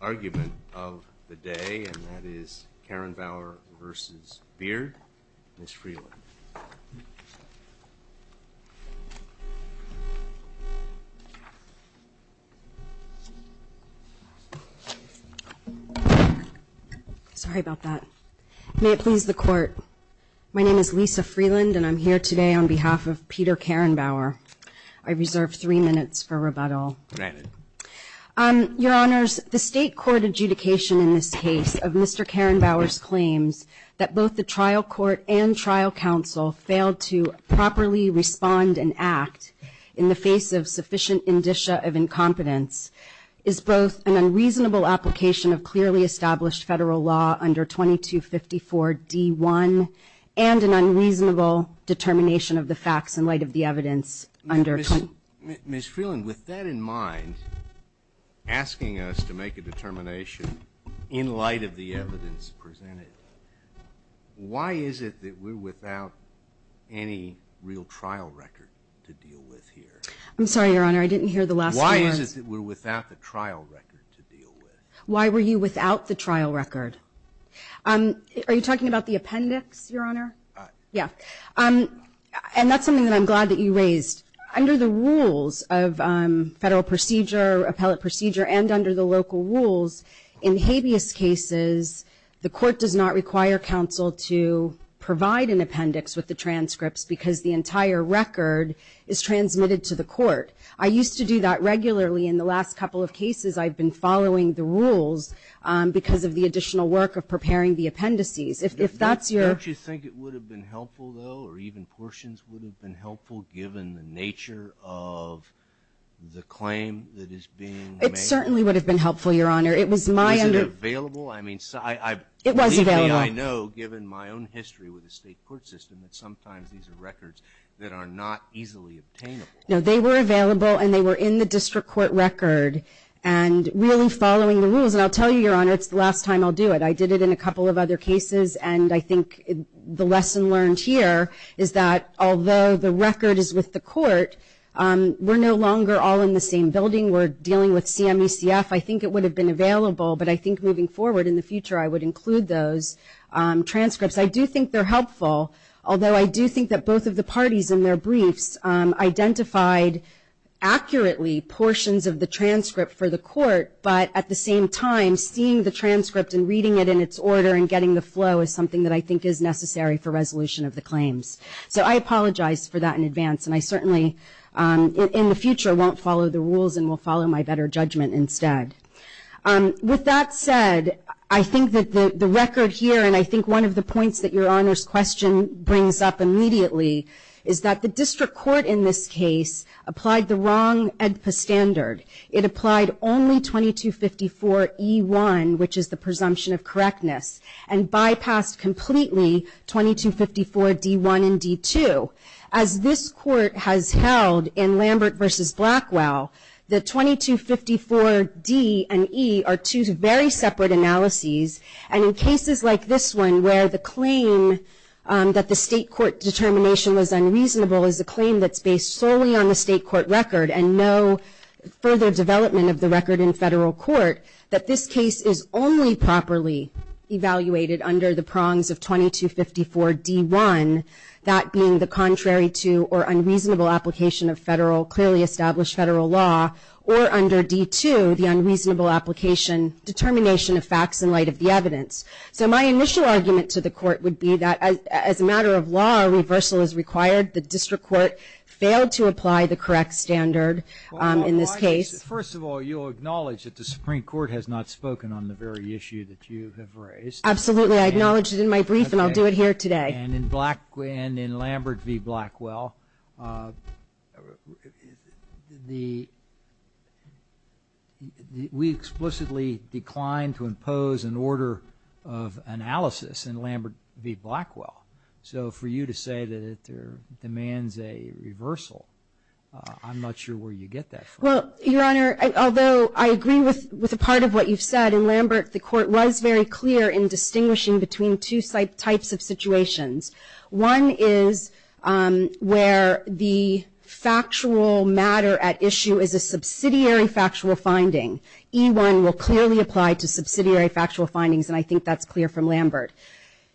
argument of the day and that is Karen Bauer versus Beard. Ms. Freeland. Sorry about that. May it please the court. My name is Lisa Freeland and I'm here today on behalf of Peter Karen Bauer. I reserve three minutes for rebuttal. Your honors, the state court adjudication in this case of Mr. Karen Bauer's claims that both the trial court and trial counsel failed to properly respond and act in the face of sufficient indicia of incompetence is both an unreasonable application of clearly established federal law under 2254 d1 and an unreasonable determination of the facts in light of the evidence under Ms. Freeland. With that in mind, asking us to make a determination in light of the evidence presented, why is it that we're without any real trial record to deal with here? I'm sorry, your honor, I didn't hear the last. Why is it that we're without the trial record to deal with? Why were you without the trial record? Are you talking about the appendix, your honor? Yeah. And that's something that I'm glad that you raised. Under the rules of federal procedure, appellate procedure, and under the local rules, in habeas cases, the court does not require counsel to provide an appendix with the transcripts because the entire record is transmitted to the court. I used to do that regularly in the last couple of cases. I've been following the rules because of the additional work of preparing the appendices. If that's your Don't you think it would have been helpful, though, or even portions would have been helpful given the nature of the claim that is being made? It certainly would have been helpful, your honor. It was my under... Is it available? I mean, I believe that I know, given my own history with the state court system, that sometimes these are records that are not easily obtainable. No, they were available and they were in the district court record and really following the rules. And I'll tell you, your honor, it's the last time I'll do it. I did it in a couple of other cases and I think the lesson learned here is that although the record is with the court, we're no longer all in the same building. We're dealing with CMECF. I think it would have been available, but I think moving forward in the future, I would include those transcripts. I do think they're helpful, although I do think that both of the parties in their briefs identified accurately portions of the transcript for the court, but at the same time, seeing the transcript and reading it in its order and getting the flow is something that I think is necessary for resolution of the claims. So I apologize for that in advance and I certainly, in the future, won't follow the rules and will follow my better judgment instead. With that said, I think that the record here, and I think one of the points that your honor's question brings up immediately, is that the district court, in this case, applied the wrong AEDPA standard. It applied only 2254E1, which is the presumption of correctness, and bypassed completely 2254D1 and D2. As this court has held in Lambert v. Blackwell, the 2254D and E are two very separate analyses, and in cases like this one, where the claim that the state court determination was unreasonable is a claim that's based solely on the state court record and no further development of the record in federal court, that this case is only properly evaluated under the prongs of 2254D1, that being the contrary to or unreasonable application of clearly established federal law, or under D2, the unreasonable application determination of facts in light of the evidence. So my initial argument to the court would be that, as a matter of law, a reversal is required. The district court failed to apply the correct standard in this case. First of all, you'll acknowledge that the Supreme Court has not spoken on the very issue that you have raised. Absolutely. I acknowledged it in my brief, and I'll do it here today. And in Lambert v. Blackwell, we explicitly declined to impose an order of analysis in Lambert v. Blackwell. So for you to say that there demands a reversal, I'm not sure where you get that from. Well, Your Honor, although I agree with a part of what you've said, in Lambert the court was very clear in distinguishing between two types of situations. One is where the factual matter at issue is a subsidiary factual finding. E1 will clearly apply to subsidiary factual findings, and I think that's clear from Lambert.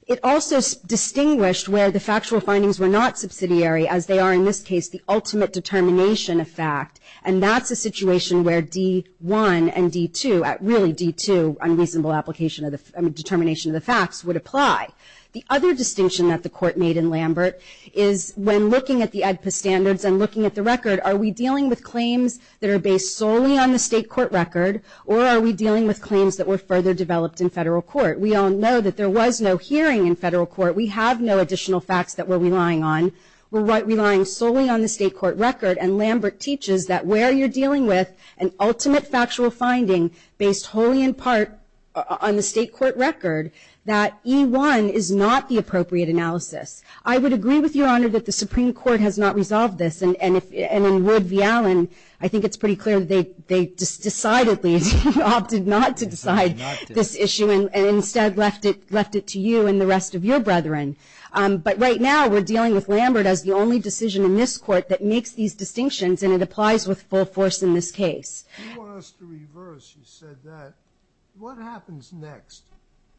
It also distinguished where the factual findings were not subsidiary, as they are in this case, the ultimate determination of fact. And that's a situation where D1 and D2, really D2, unreasonable application of the determination of the facts, would apply. The other distinction that the court made in Lambert is when looking at the AEDPA standards and looking at the record, are we dealing with claims that are based solely on the state court record, or are we dealing with claims that were further developed in federal court? We all know that there was no hearing in federal court. We have no additional facts that rely solely on the state court record, and Lambert teaches that where you're dealing with an ultimate factual finding based wholly in part on the state court record, that E1 is not the appropriate analysis. I would agree with Your Honor that the Supreme Court has not resolved this, and in Wood v. Allen, I think it's pretty clear they decidedly opted not to decide this issue and instead left it to you and the rest of your brethren. But right now we're dealing with Lambert as the only decision in this court that makes these distinctions, and it applies with full force in this case. You want us to reverse, you said that. What happens next?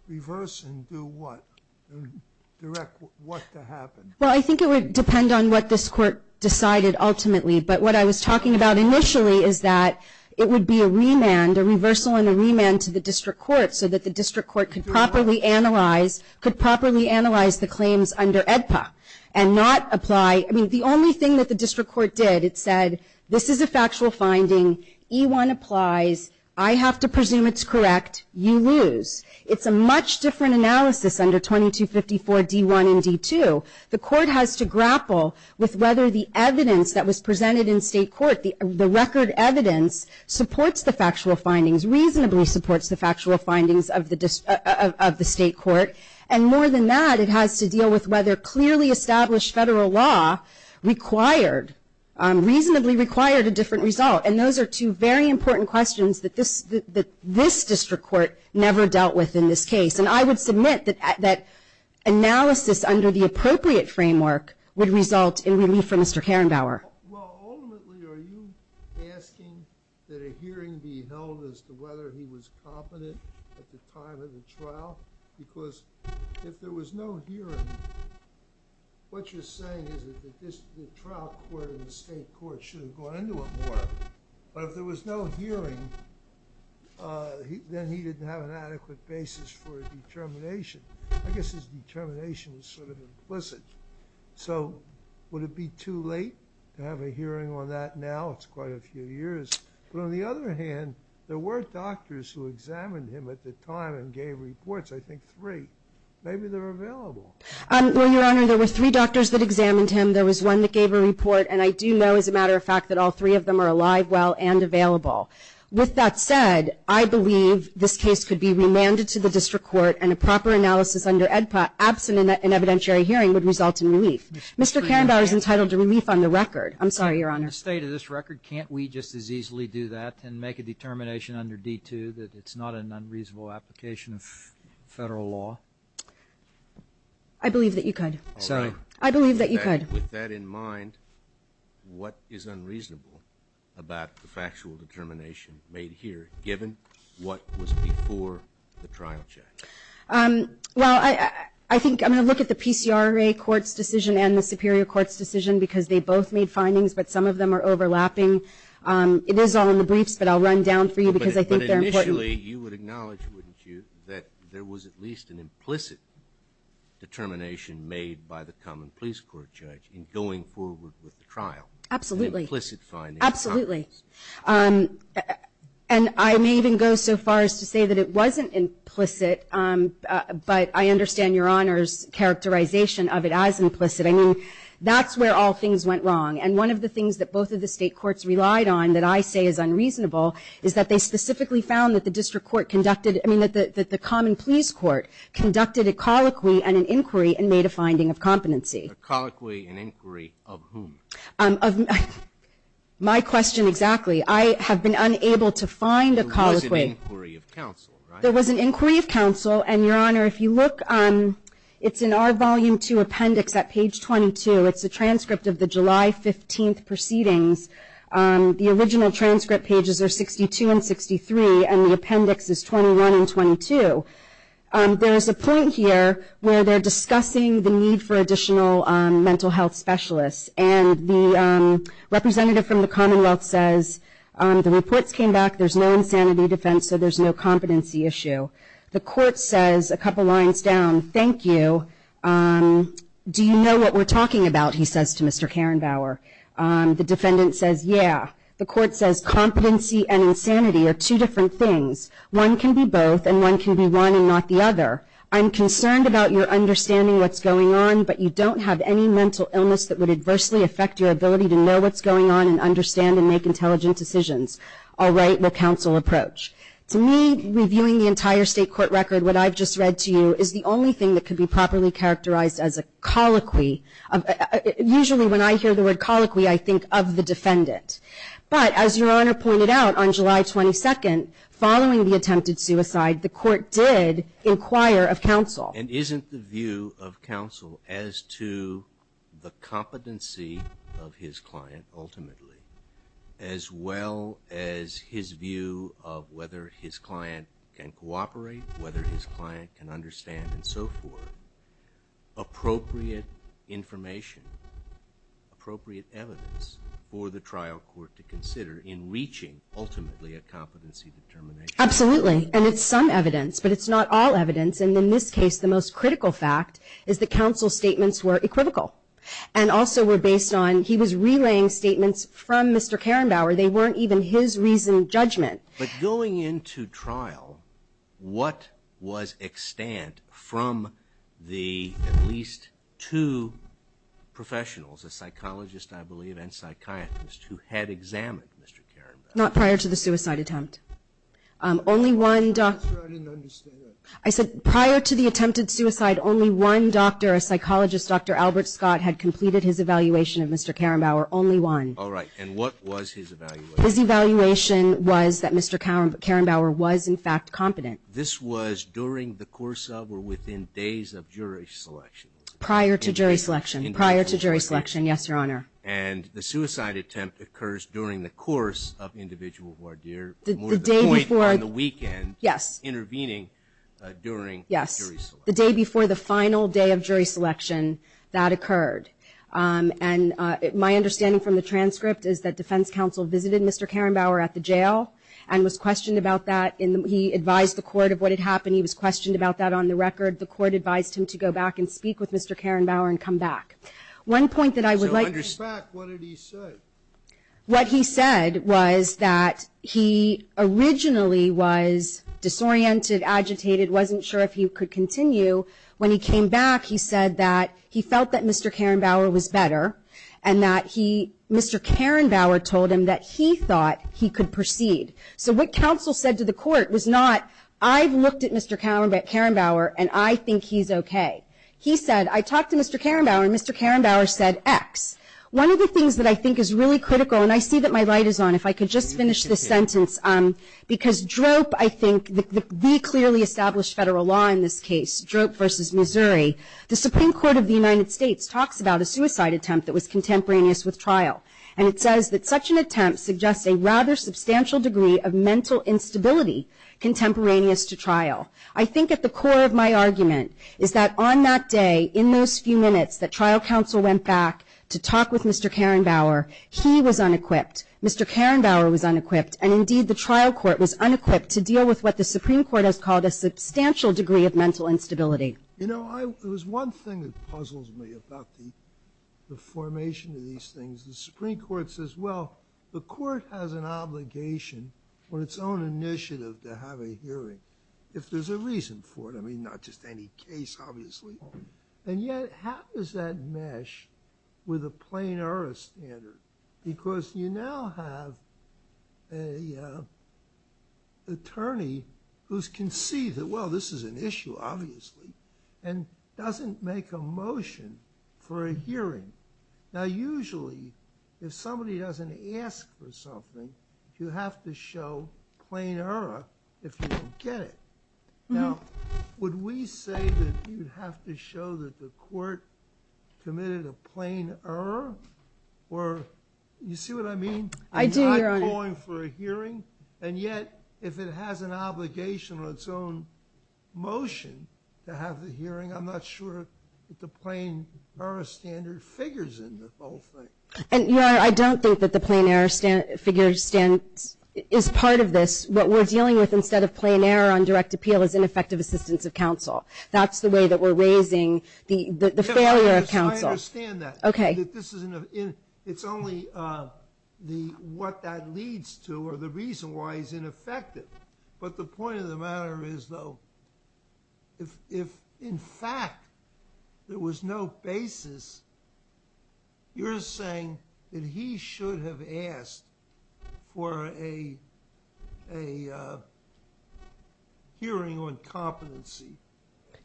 Reverse and do what? Direct what to happen? Well, I think it would depend on what this court decided ultimately, but what I was talking about initially is that it would be a remand, a reversal and a remand to the district court so that the district court could properly analyze, could properly analyze the claims under AEDPA and not apply, I mean, the only thing that the district court did, it said, this is a factual finding, E1 applies, I have to presume it's correct, you lose. It's a much different analysis under 2254 D1 and D2. The court has to grapple with whether the evidence that was presented in state court, the record evidence, supports the factual findings, reasonably supports the factual findings of the state court. And more than that, it has to deal with whether clearly established federal law required, reasonably required a different result. And those are two very important questions that this district court never dealt with in this case. And I would submit that analysis under the appropriate framework would result in relief for Mr. Karenbauer. Well, ultimately, are you asking that a hearing be held as to whether he was competent at the time of the trial? Because if there was no hearing, what you're saying is that the trial court and the state court should have gone into it more. But if there was no hearing, then he didn't have an adequate basis for a determination. I guess his determination is sort of implicit. So would it be too late to have a hearing on that now? It's quite a few years. But on the other hand, there were doctors who examined him at the time and gave reports. I think three. Maybe they're available. Well, Your Honor, there were three doctors that examined him. There was one that gave a report. And I do know, as a matter of fact, that all three of them are alive, well, and available. With that said, I believe this case could be remanded to the district court, and a proper analysis under EDPA, absent an evidentiary hearing, would result in relief. Mr. Karenbauer is entitled to relief on the record. I'm sorry, Your Honor. In the state of this record, can't we just as easily do that and make a determination under D2 that it's not an unreasonable application of Federal law? I believe that you could. Sorry. I believe that you could. With that in mind, what is unreasonable about the factual determination made here, given what was before the trial check? Well, I think I'm going to look at the PCRA court's decision and the Superior Court's decision, because they both made findings, but some of them are overlapping. It is all in the briefs, but I'll run down for you, because I think they're important. But initially, you would acknowledge, wouldn't you, that there was at least an implicit determination made by the common police court judge in going forward with the trial? Absolutely. Implicit findings. Absolutely. And I may even go so far as to say that it wasn't implicit, but I understand Your Honor's characterization of it as implicit. I mean, that's where all things went wrong. And one of the things that both of the state courts relied on that I say is unreasonable is that they specifically found that the common police court conducted a colloquy and an inquiry and made a finding of competency. A colloquy and inquiry of whom? Of my question, exactly. I have been unable to find a colloquy. There was an inquiry of counsel, right? There was an inquiry of counsel. And Your Honor, if you look, it's in our volume two appendix at page 22. It's a transcript of the July 15th proceedings. The original transcript pages are 62 and 63, and the appendix is 21 and 22. There is a point here where they're discussing the need for additional mental health specialists. And the representative from the Commonwealth says, the reports came back, there's no insanity defense, so there's no competency issue. The court says a couple lines down, thank you. Do you know what we're talking about, he says to Mr. Karenbauer. The defendant says, yeah. The court says competency and insanity are two different things. One can be both, and one can be one and not the other. I'm concerned about your understanding what's going on, but you don't have any mental illness that would adversely affect your ability to know what's going on and understand and make intelligent decisions. All right, what counsel approach? To me, reviewing the entire state court record, what I've just read to you, is the only thing that could be properly characterized as a colloquy. Usually when I hear the word colloquy, I think of the defendant. But as Your Honor pointed out on July 22nd, following the attempted suicide, the court did inquire of counsel. And isn't the view of counsel as to the competency of his client ultimately, as well as his view of whether his client can cooperate, whether his client can understand and so forth, appropriate information, appropriate evidence for the trial court to consider in reaching ultimately a competency determination? Absolutely, and it's some evidence, but it's not all evidence. And in this case, the most critical fact is that counsel's statements were equivocal. And also were based on, he was relaying statements from Mr. Karen Bauer. They weren't even his reasoning judgment. But going into trial, what was extant from the at least two professionals, a psychologist, I believe, and psychiatrist who had examined Mr. Karen Bauer? Not prior to the suicide attempt. Only one doctor. I didn't understand that. I said prior to the attempted suicide, only one doctor, a psychologist, Dr. Albert Scott, had completed his evaluation of Mr. Karen Bauer, only one. All right, and what was his evaluation? His evaluation was that Mr. Karen Bauer was in fact competent. This was during the course of or within days of jury selection? Prior to jury selection. Prior to jury selection, yes, Your Honor. And the suicide attempt occurs during the course of individual voir dire? The day before the weekend. Yes. Intervening during the jury selection. The day before the final day of jury selection, that occurred. And my understanding from the transcript is that defense counsel visited Mr. Karen Bauer at the jail and was questioned about that. He advised the court of what had happened. He was questioned about that on the record. The court advised him to go back and speak with Mr. Karen Bauer and come back. One point that I would like to... So under spec, what did he say? What he said was that he originally was disoriented, agitated, wasn't sure if he could continue. When he came back, he said that he felt that Mr. Karen Bauer was better and that he... Mr. Karen Bauer told him that he thought he could proceed. So what counsel said to the court was not, I've looked at Mr. Karen Bauer and I think he's okay. He said, I talked to Mr. Karen Bauer and Mr. Karen Bauer said X. One of the things that I think is really critical, and I see that my light is on, if I could just finish this sentence. Because DROP, I think, the clearly established federal law in this case, DROP versus Missouri, the Supreme Court of the United States talks about a suicide attempt that was contemporaneous with trial. And it says that such an attempt suggests a rather substantial degree of mental instability contemporaneous to trial. I think at the core of my argument is that on that day, in those few minutes that trial counsel went back to talk with Mr. Karen Bauer, he was unequipped. Mr. Karen Bauer was unequipped. And indeed, the trial court was unequipped to deal with what the Supreme Court has called a substantial degree of mental instability. You know, it was one thing that puzzles me about the formation of these things. The Supreme Court says, well, the court has an obligation on its own initiative to have a hearing if there's a reason for it. I mean, not just any case, obviously. And yet, how does that mesh with a plain error standard? Because you now have an attorney who's conceived that, well, this is an issue, obviously, and doesn't make a motion for a hearing. Now, usually, if somebody doesn't ask for something, you have to show plain error if you don't get it. Now, would we say that you'd have to show that the court committed a plain error? Or, you see what I mean? I do, Your Honor. I'm not going for a hearing. And yet, if it has an obligation on its own motion to have the hearing, I'm not sure that the plain error standard figures in the whole thing. And, Your Honor, I don't think that the plain error figure is part of this. What we're dealing with instead of plain error on direct appeal is ineffective assistance of counsel. That's the way that we're raising the failure of counsel. I understand that. It's only what that leads to or the reason why he's ineffective. But the point of the matter is, though, if, in fact, there was no basis, you're saying that he should have asked for a hearing on competency.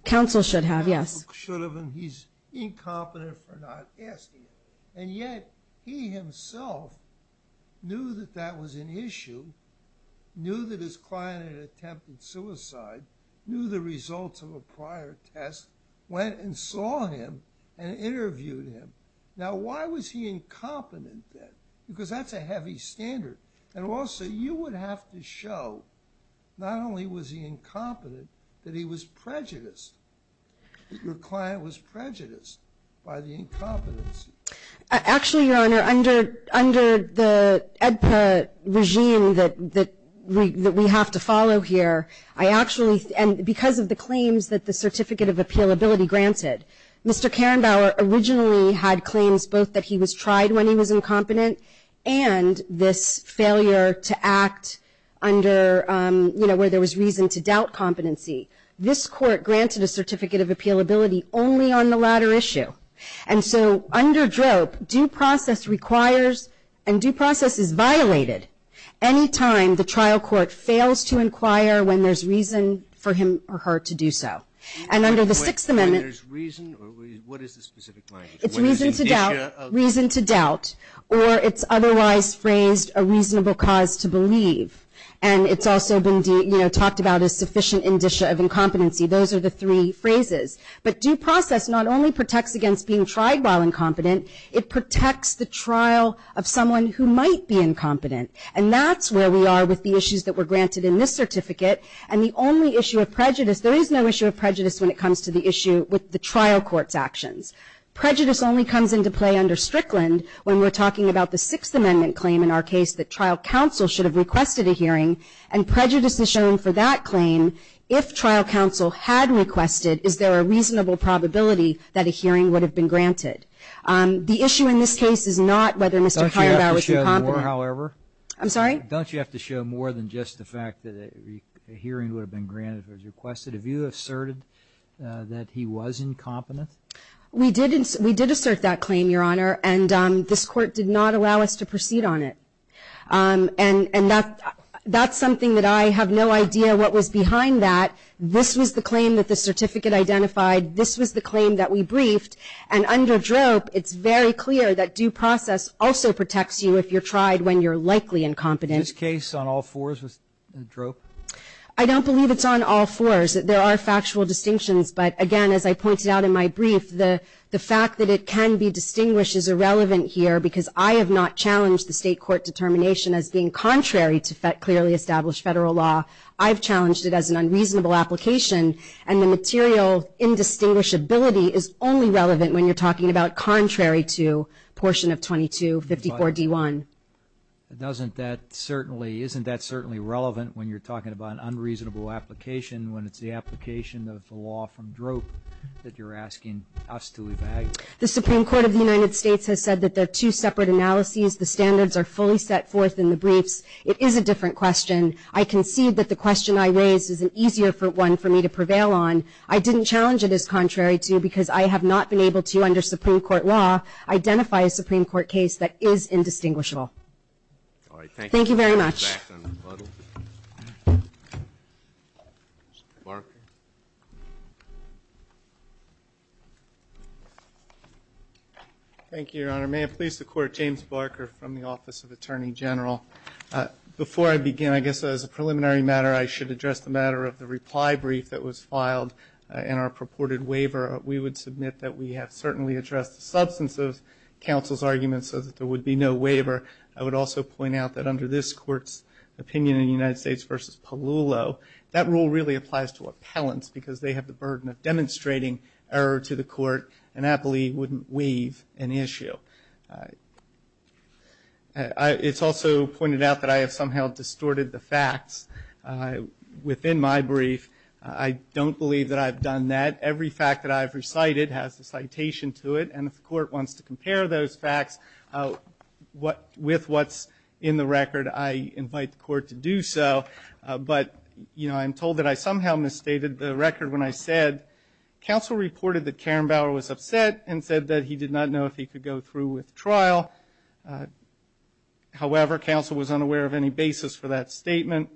Counsel should have, yes. Counsel should have, and he's incompetent for not asking. And yet, he himself knew that that was an issue, knew that his client had attempted suicide, knew the results of a prior test, went and saw him and interviewed him. Now, why was he incompetent then? Because that's a heavy standard. And also, you would have to show not only was he incompetent, that he was prejudiced. Your client was prejudiced by the incompetency. Actually, Your Honor, under the AEDPA regime that we have to follow here, I actually, and because of the claims that the Certificate of Appealability granted, Mr. Karenbauer originally had claims both that he was tried when he was incompetent and this failure to act under, you know, where there was reason to doubt competency. This Court granted a Certificate of Appealability only on the latter issue. And so, under DROP, due process requires and due process is violated any time the trial court fails to inquire when there's reason for him or her to do so. And under the Sixth Amendment- It's reason to doubt. Reason to doubt. Or it's otherwise phrased a reasonable cause to believe. And it's also been, you know, talked about as sufficient indicia of incompetency. Those are the three phrases. But due process not only protects against being tried while incompetent, it protects the trial of someone who might be incompetent. And that's where we are with the issues that were granted in this certificate. And the only issue of prejudice, there is no issue of prejudice when it comes to the with the trial court's actions. Prejudice only comes into play under Strickland when we're talking about the Sixth Amendment claim in our case that trial counsel should have requested a hearing. And prejudice is shown for that claim if trial counsel had requested, is there a reasonable probability that a hearing would have been granted? The issue in this case is not whether Mr. Kierbaugh was incompetent. Don't you have to show more, however? I'm sorry? Don't you have to show more than just the fact that a hearing would have been granted if it was requested? Have you asserted that he was incompetent? We did assert that claim, Your Honor. And this court did not allow us to proceed on it. And that's something that I have no idea what was behind that. This was the claim that the certificate identified. This was the claim that we briefed. And under DROP, it's very clear that due process also protects you if you're tried when you're likely incompetent. Is this case on all fours with DROP? I don't believe it's on all fours. There are factual distinctions. But again, as I pointed out in my brief, the fact that it can be distinguished is irrelevant here because I have not challenged the state court determination as being contrary to clearly established federal law. I've challenged it as an unreasonable application. And the material indistinguishability is only relevant when you're talking about contrary to portion of 2254 D1. Doesn't that certainly, isn't that certainly relevant when you're talking about an unreasonable application when it's the application of the law from DROP that you're asking us to evaluate? The Supreme Court of the United States has said that they're two separate analyses. The standards are fully set forth in the briefs. It is a different question. I concede that the question I raised is an easier one for me to prevail on. I didn't challenge it as contrary to because I have not been able to, under Supreme Court law, identify a Supreme Court case that is indistinguishable. All right. Thank you. Thank you very much. Thank you, Your Honor. May it please the Court, James Barker from the Office of Attorney General. Before I begin, I guess as a preliminary matter, I should address the matter of the reply brief that was filed in our purported waiver. We would submit that we have certainly addressed the substance of counsel's argument so that there would be no waiver. I would also point out that under this Court's opinion in United States v. Palullo, that rule really applies to appellants because they have the burden of demonstrating error to the Court, and I believe wouldn't waive an issue. It's also pointed out that I have somehow distorted the facts within my brief. I don't believe that I've done that. Every fact that I've recited has a citation to it, and if the Court wants to compare those facts with what's in the record, I invite the Court to do so. But, you know, I'm told that I somehow misstated the record when I said, counsel reported that Karen Bauer was upset and said that he did not know if he could go through with trial. However, counsel was unaware of any basis for that statement.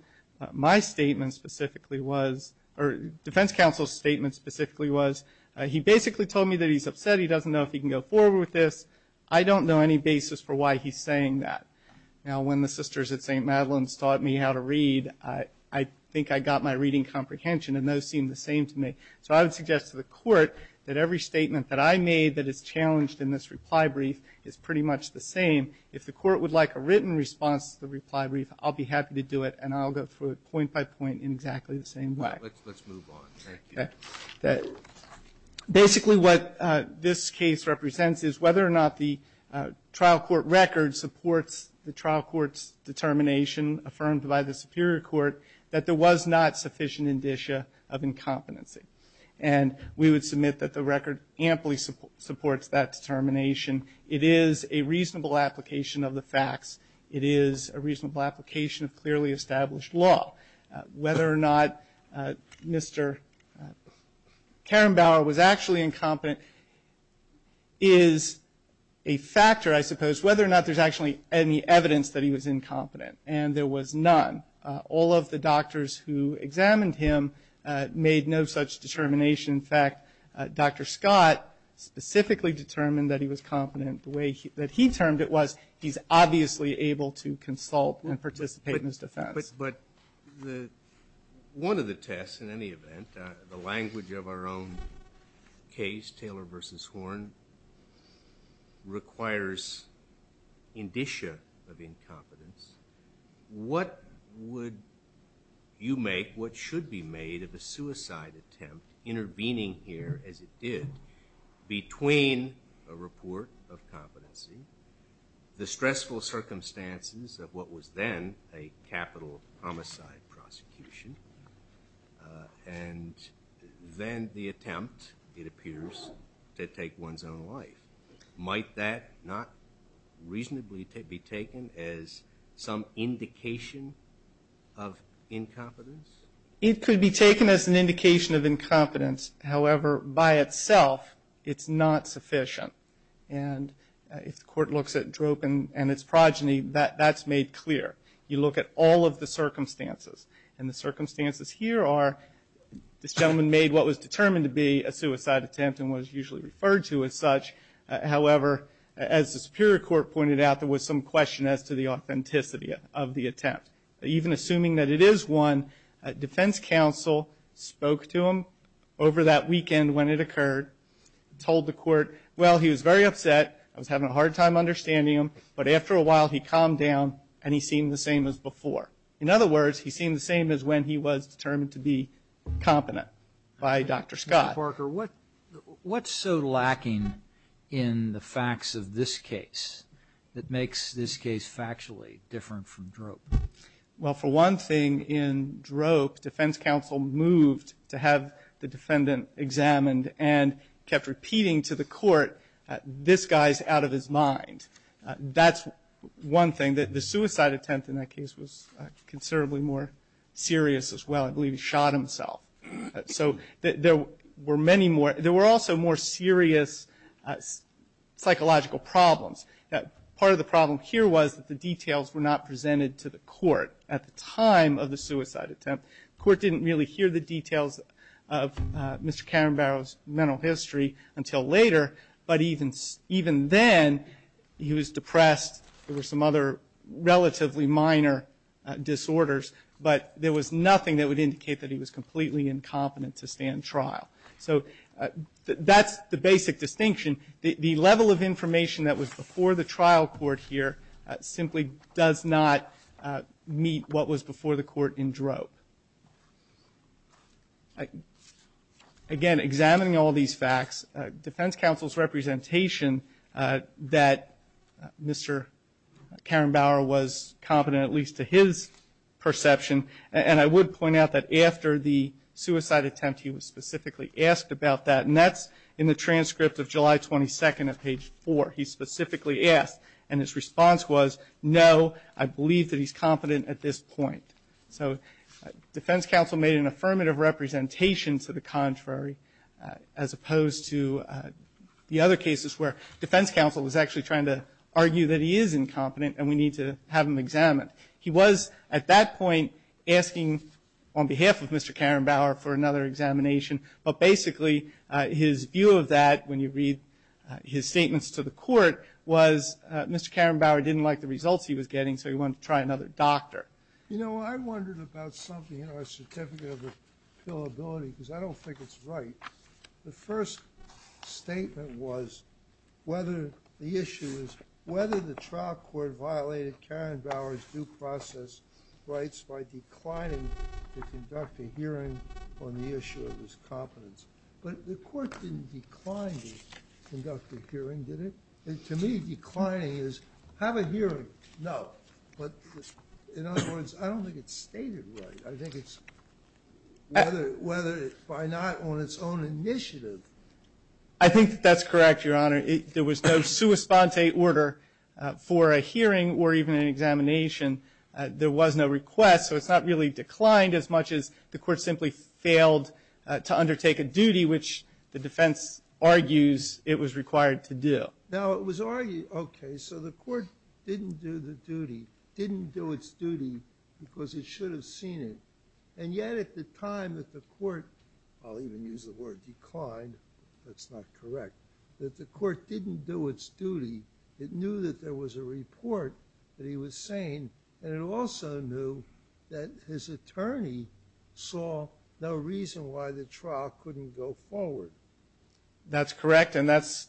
My statement specifically was, or defense counsel's statement specifically was, he basically told me that he's upset. He doesn't know if he can go forward with this. I don't know any basis for why he's saying that. Now, when the sisters at St. Madeline's taught me how to read, I think I got my reading comprehension, and those seemed the same to me. So I would suggest to the Court that every statement that I made that is challenged in this reply brief is pretty much the same. If the Court would like a written response to the reply brief, I'll be happy to do it, and I'll go through it point by point in exactly the same way. Let's move on. Basically, what this case represents is whether or not the trial court record supports the trial court's determination affirmed by the Superior Court that there was not sufficient indicia of incompetency. And we would submit that the record amply supports that determination. It is a reasonable application of the facts. It is a reasonable application of clearly established law. Whether or not Mr. Karen Bauer was actually incompetent is a factor, I suppose. Whether or not there's actually any evidence that he was incompetent. And there was none. All of the doctors who examined him made no such determination. In fact, Dr. Scott specifically determined that he was competent the way that he termed it was he's obviously able to consult and participate in his defense. But one of the tests, in any event, the language of our own case, Taylor v. Horne, requires indicia of incompetence. What would you make, what should be made of a suicide attempt intervening here as it did between a report of competency, the stressful circumstances of what was then a capital homicide prosecution, and then the attempt, it appears, to take one's own life? Might that not reasonably be taken as some indication of incompetence? It could be taken as an indication of incompetence. However, by itself, it's not sufficient. And if the court looks at droop and its progeny, that's made clear. You look at all of the circumstances. And the circumstances here are this gentleman made what was determined to be a suicide attempt and was usually referred to as such. However, as the Superior Court pointed out, there was some question as to the authenticity of the attempt. Even assuming that it is one, defense counsel spoke to him over that weekend when it occurred, told the court, well, he was very upset. I was having a hard time understanding him. But after a while, he calmed down and he seemed the same as before. In other words, he seemed the same as when he was determined to be competent by Dr. Scott. Mr. Parker, what's so lacking in the facts of this case that makes this case factually different from droop? Well, for one thing, in droop, defense counsel moved to have the defendant examined and kept repeating to the court, this guy's out of his mind. That's one thing that the suicide attempt in that case was considerably more serious as well. I believe he shot himself. So there were many more. There were also more serious psychological problems. Part of the problem here was that the details were not presented to the court at the time of the suicide attempt. The court didn't really hear the details of Mr. Karen Barrow's mental history until later. But even then, he was depressed. There were some other relatively minor disorders. But there was nothing that would indicate that he was completely incompetent to stand trial. So that's the basic distinction. The level of information that was before the trial court here simply does not meet what was before the court in droop. Again, examining all these facts, defense counsel's representation that Mr. Karen Barrow was competent, at least to his perception, and I would point out that after the suicide attempt, he was specifically asked about that. And that's in the transcript of July 22nd at page 4. He specifically asked. And his response was, no, I believe that he's competent at this point. So defense counsel made an affirmative representation to the contrary as opposed to the other cases where defense counsel was actually trying to argue that he is incompetent and we need to have him examined. He was at that point asking on behalf of Mr. Karen Barrow for another examination. But basically, his view of that, when you read his statements to the court, was Mr. Karen Barrow didn't like the results he was getting, so he wanted to try another doctor. You know, I wondered about something in our certificate of appealability, because I don't think it's right. The first statement was whether the issue is whether the trial court violated Karen on the issue of his competence. But the court didn't decline to conduct a hearing, did it? To me, declining is have a hearing. No. But in other words, I don't think it's stated right. I think it's whether by not on its own initiative. I think that's correct, Your Honor. There was no sua sponte order for a hearing or even an examination. There was no request. So it's not really declined as much as the court simply failed to undertake a duty, which the defense argues it was required to do. Now, it was argued, okay, so the court didn't do the duty, didn't do its duty, because it should have seen it. And yet, at the time that the court, I'll even use the word declined, that's not correct, that the court didn't do its duty, it knew that there was a report that he was saying, and it also knew that his attorney saw no reason why the trial couldn't go forward. That's correct. And that's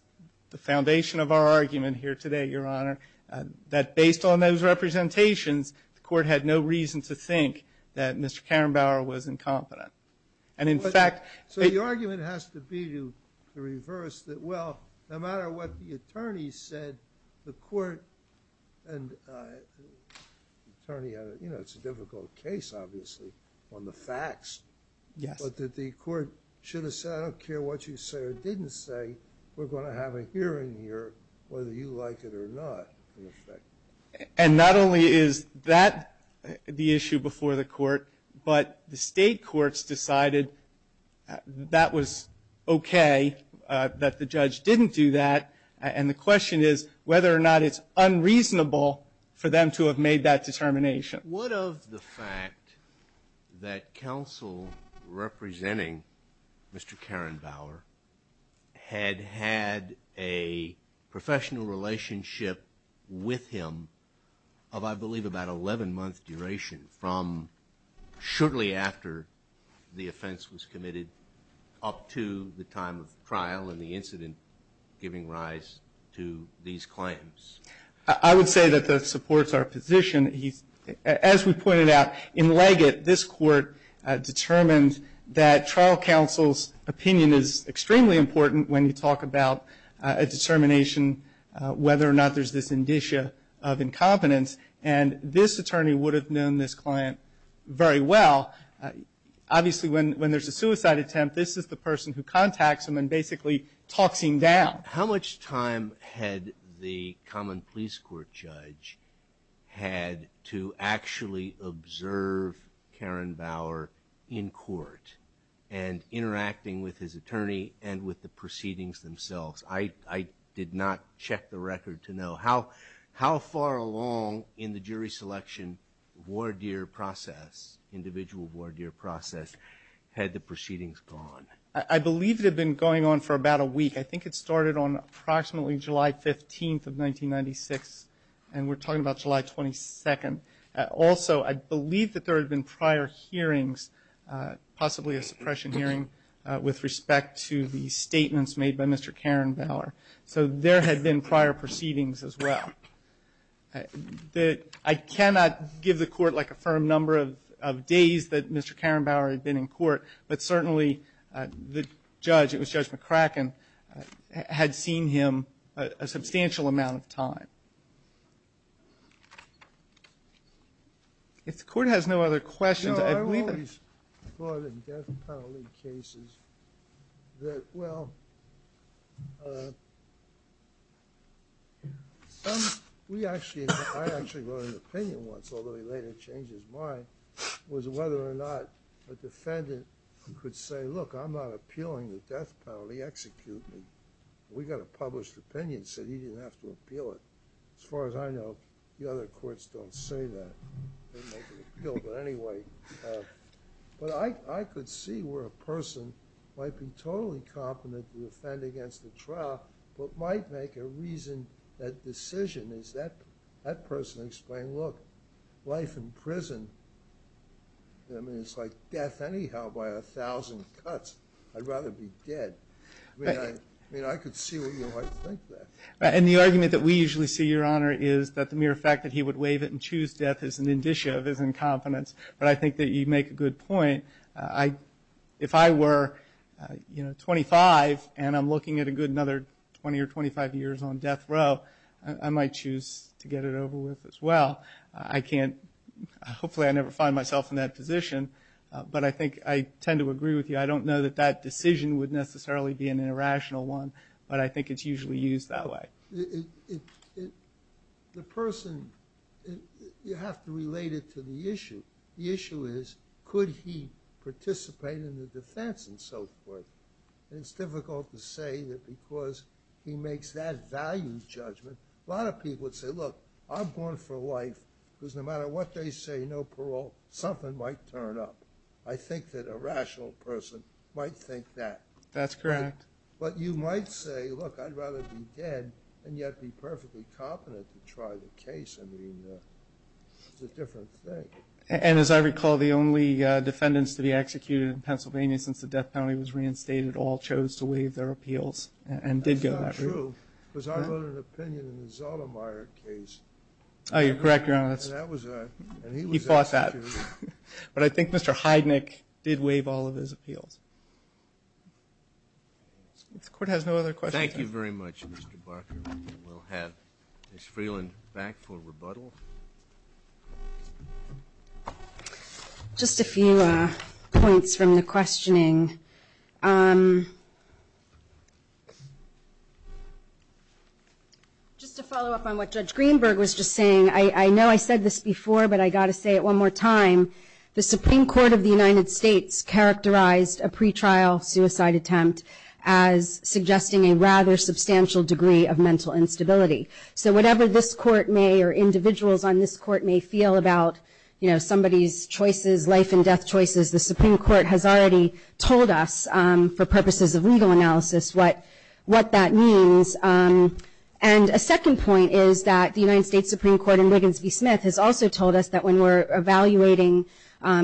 the foundation of our argument here today, Your Honor, that based on those representations, the court had no reason to think that Mr. Karenbauer was incompetent. And in fact... So the argument has to be to reverse that, well, no matter what the attorney said, the court, and the attorney, you know, it's a difficult case, obviously, on the facts. Yes. But that the court should have said, I don't care what you say or didn't say, we're going to have a hearing here, whether you like it or not, in effect. And not only is that the issue before the court, but the state courts decided that was okay, that the judge didn't do that. And the question is whether or not it's unreasonable for them to have made that determination. What of the fact that counsel representing Mr. Karenbauer had had a professional relationship with him of, I believe, about 11 months duration from shortly after the offense was committed up to the time of trial and the incident giving rise to these claims? I would say that that supports our position. As we pointed out, in Leggett, this court determined that trial counsel's opinion is extremely important when you talk about a determination whether or not there's this indicia of incompetence. And this attorney would have known this client very well. Obviously, when there's a suicide attempt, this is the person who contacts him and basically talks him down. How much time had the common police court judge had to actually observe Karenbauer in court and interacting with his attorney and with the proceedings themselves? I did not check the record to know. How far along in the jury selection, individual voir dire process, had the proceedings gone? I believe it had been going on for about a week. I think it started on approximately July 15th of 1996, and we're talking about July 22nd. Also, I believe that there had been prior hearings, possibly a suppression hearing, with respect to the statements made by Mr. Karenbauer. So there had been prior proceedings as well. I cannot give the court, like, a firm number of days that Mr. Karenbauer had been in court, but certainly the judge, it was Judge McCracken, had seen him a substantial amount of time. If the court has no other questions, I'd leave it. Well, in death penalty cases, that, well, some, we actually, I actually wrote an opinion once, although he later changed his mind, was whether or not a defendant could say, look, I'm not appealing the death penalty, execute me. We got a published opinion, said he didn't have to appeal it. As far as I know, the other courts don't say that, they make an appeal. But anyway, but I could see where a person might be totally competent to defend against the trial, but might make a reason, a decision, is that, that person explain, look, life in prison, I mean, it's like death anyhow by a thousand cuts. I'd rather be dead. I mean, I could see where you might think that. And the argument that we usually see, Your Honor, is that the mere fact that he would But I think that you make a good point. If I were, you know, 25, and I'm looking at a good another 20 or 25 years on death row, I might choose to get it over with as well. I can't, hopefully I never find myself in that position. But I think I tend to agree with you. I don't know that that decision would necessarily be an irrational one. But I think it's usually used that way. It, the person, you have to relate it to the issue. The issue is, could he participate in the defense and so forth? And it's difficult to say that because he makes that value judgment. A lot of people would say, look, I'm born for life, because no matter what they say, no parole, something might turn up. I think that a rational person might think that. That's correct. But you might say, look, I'd rather be dead and yet be perfectly competent to try the case. I mean, it's a different thing. And as I recall, the only defendants to be executed in Pennsylvania since the death penalty was reinstated all chose to waive their appeals and did go that route. That's not true, because I wrote an opinion in the Zollermeyer case. Oh, you're correct, Your Honor. And that was, and he was executed. He fought that. But I think Mr. Heidnik did waive all of his appeals. The court has no other questions. Thank you very much, Mr. Barker. We'll have Ms. Freeland back for rebuttal. Just a few points from the questioning. Just to follow up on what Judge Greenberg was just saying, I know I said this before, but I got to say it one more time. The Supreme Court of the United States characterized a pretrial suicide attempt as suggesting a rather substantial degree of mental instability. So whatever this court may or individuals on this court may feel about somebody's choices, life and death choices, the Supreme Court has already told us for purposes of legal analysis what that means. And a second point is that the United States Supreme Court in Wiggins v. Smith has also told us that when we're evaluating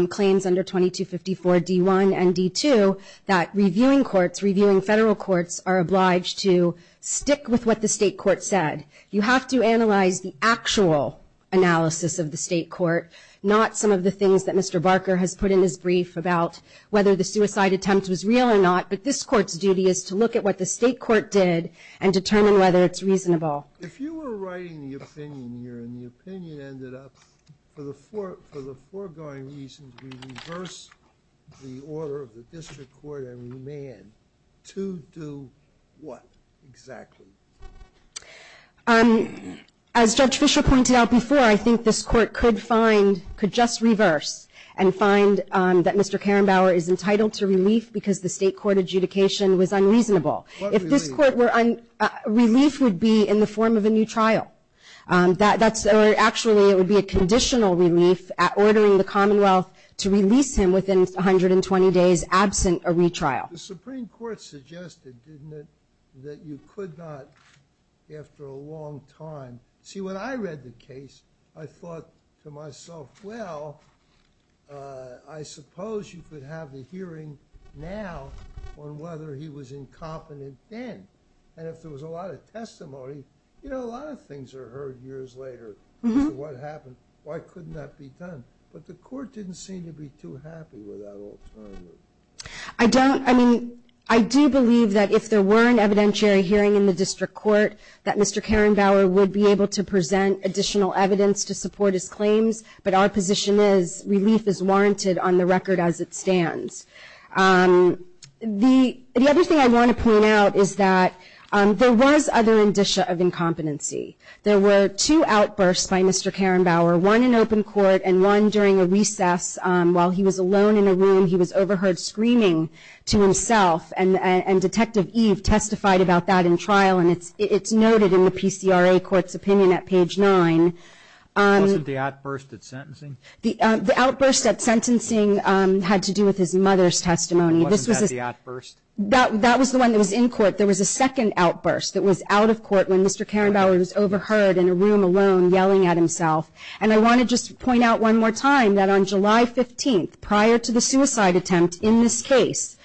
claims under 2254 D1 and D2, that reviewing courts, reviewing federal courts are obliged to stick with what the state court said. You have to analyze the actual analysis of the state court, not some of the things that Mr. Barker has put in his brief about whether the suicide attempt was real or not. But this court's duty is to look at what the state court did and determine whether it's reasonable. If you were writing the opinion here and the opinion ended up for the foregoing reason to reverse the order of the district court and remand, to do what exactly? As Judge Fischer pointed out before, I think this court could find, could just reverse and find that Mr. Karrenbauer is entitled to relief because the state court adjudication was unreasonable. If this court were, relief would be in the form of a new trial. Actually, it would be a conditional relief at ordering the Commonwealth to release him within 120 days absent a retrial. The Supreme Court suggested, didn't it, that you could not after a long time. See, when I read the case, I thought to myself, well, I suppose you could have the hearing now on whether he was incompetent then. And if there was a lot of testimony, you know, a lot of things are heard years later. What happened? Why couldn't that be done? But the court didn't seem to be too happy with that alternative. I don't, I mean, I do believe that if there were an evidentiary hearing in the district court, that Mr. Karrenbauer would be able to present additional evidence to support his claims. But our position is relief is warranted on the record as it stands. The other thing I want to point out is that there was other indicia of incompetency. There were two outbursts by Mr. Karrenbauer, one in open court and one during a recess. While he was alone in a room, he was overheard screaming to himself. And Detective Eve testified about that in trial. And it's noted in the PCRA court's opinion at page nine. Wasn't the outburst at sentencing? The outburst at sentencing had to do with his mother's testimony. Wasn't that the outburst? That was the one that was in court. There was a second outburst that was out of court when Mr. Karrenbauer was overheard in a room alone yelling at himself. And I want to just point out one more time that on July 15th, prior to the suicide attempt in this case,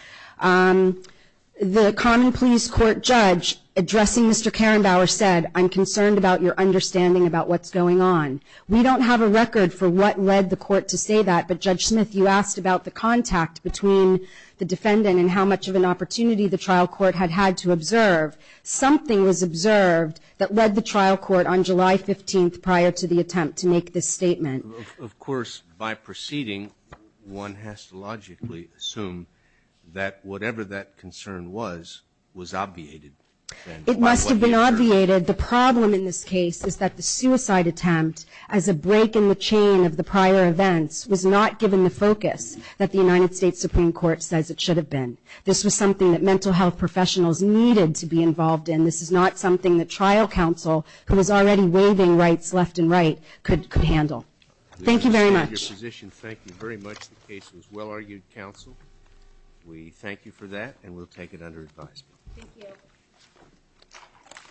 the common pleas court judge addressing Mr. Karrenbauer said, I'm concerned about your understanding about what's going on. We don't have a record for what led the court to say that, but Judge Smith, you asked about the contact between the defendant and how much of an opportunity the trial court had had to observe. Something was observed that led the trial court on July 15th prior to the attempt to make this statement. Of course, by proceeding, one has to logically assume that whatever that concern was, was obviated. It must have been obviated. The problem in this case is that the suicide attempt, as a break in the chain of the prior events, was not given the focus that the United States Supreme Court says it should have been. This was something that mental health professionals needed to be involved in. This is not something that trial counsel, who was already waiving rights left and right, could handle. Thank you very much. We appreciate your position. Thank you very much. The case was well-argued, counsel. We thank you for that, and we'll take it under advisement. Thank you.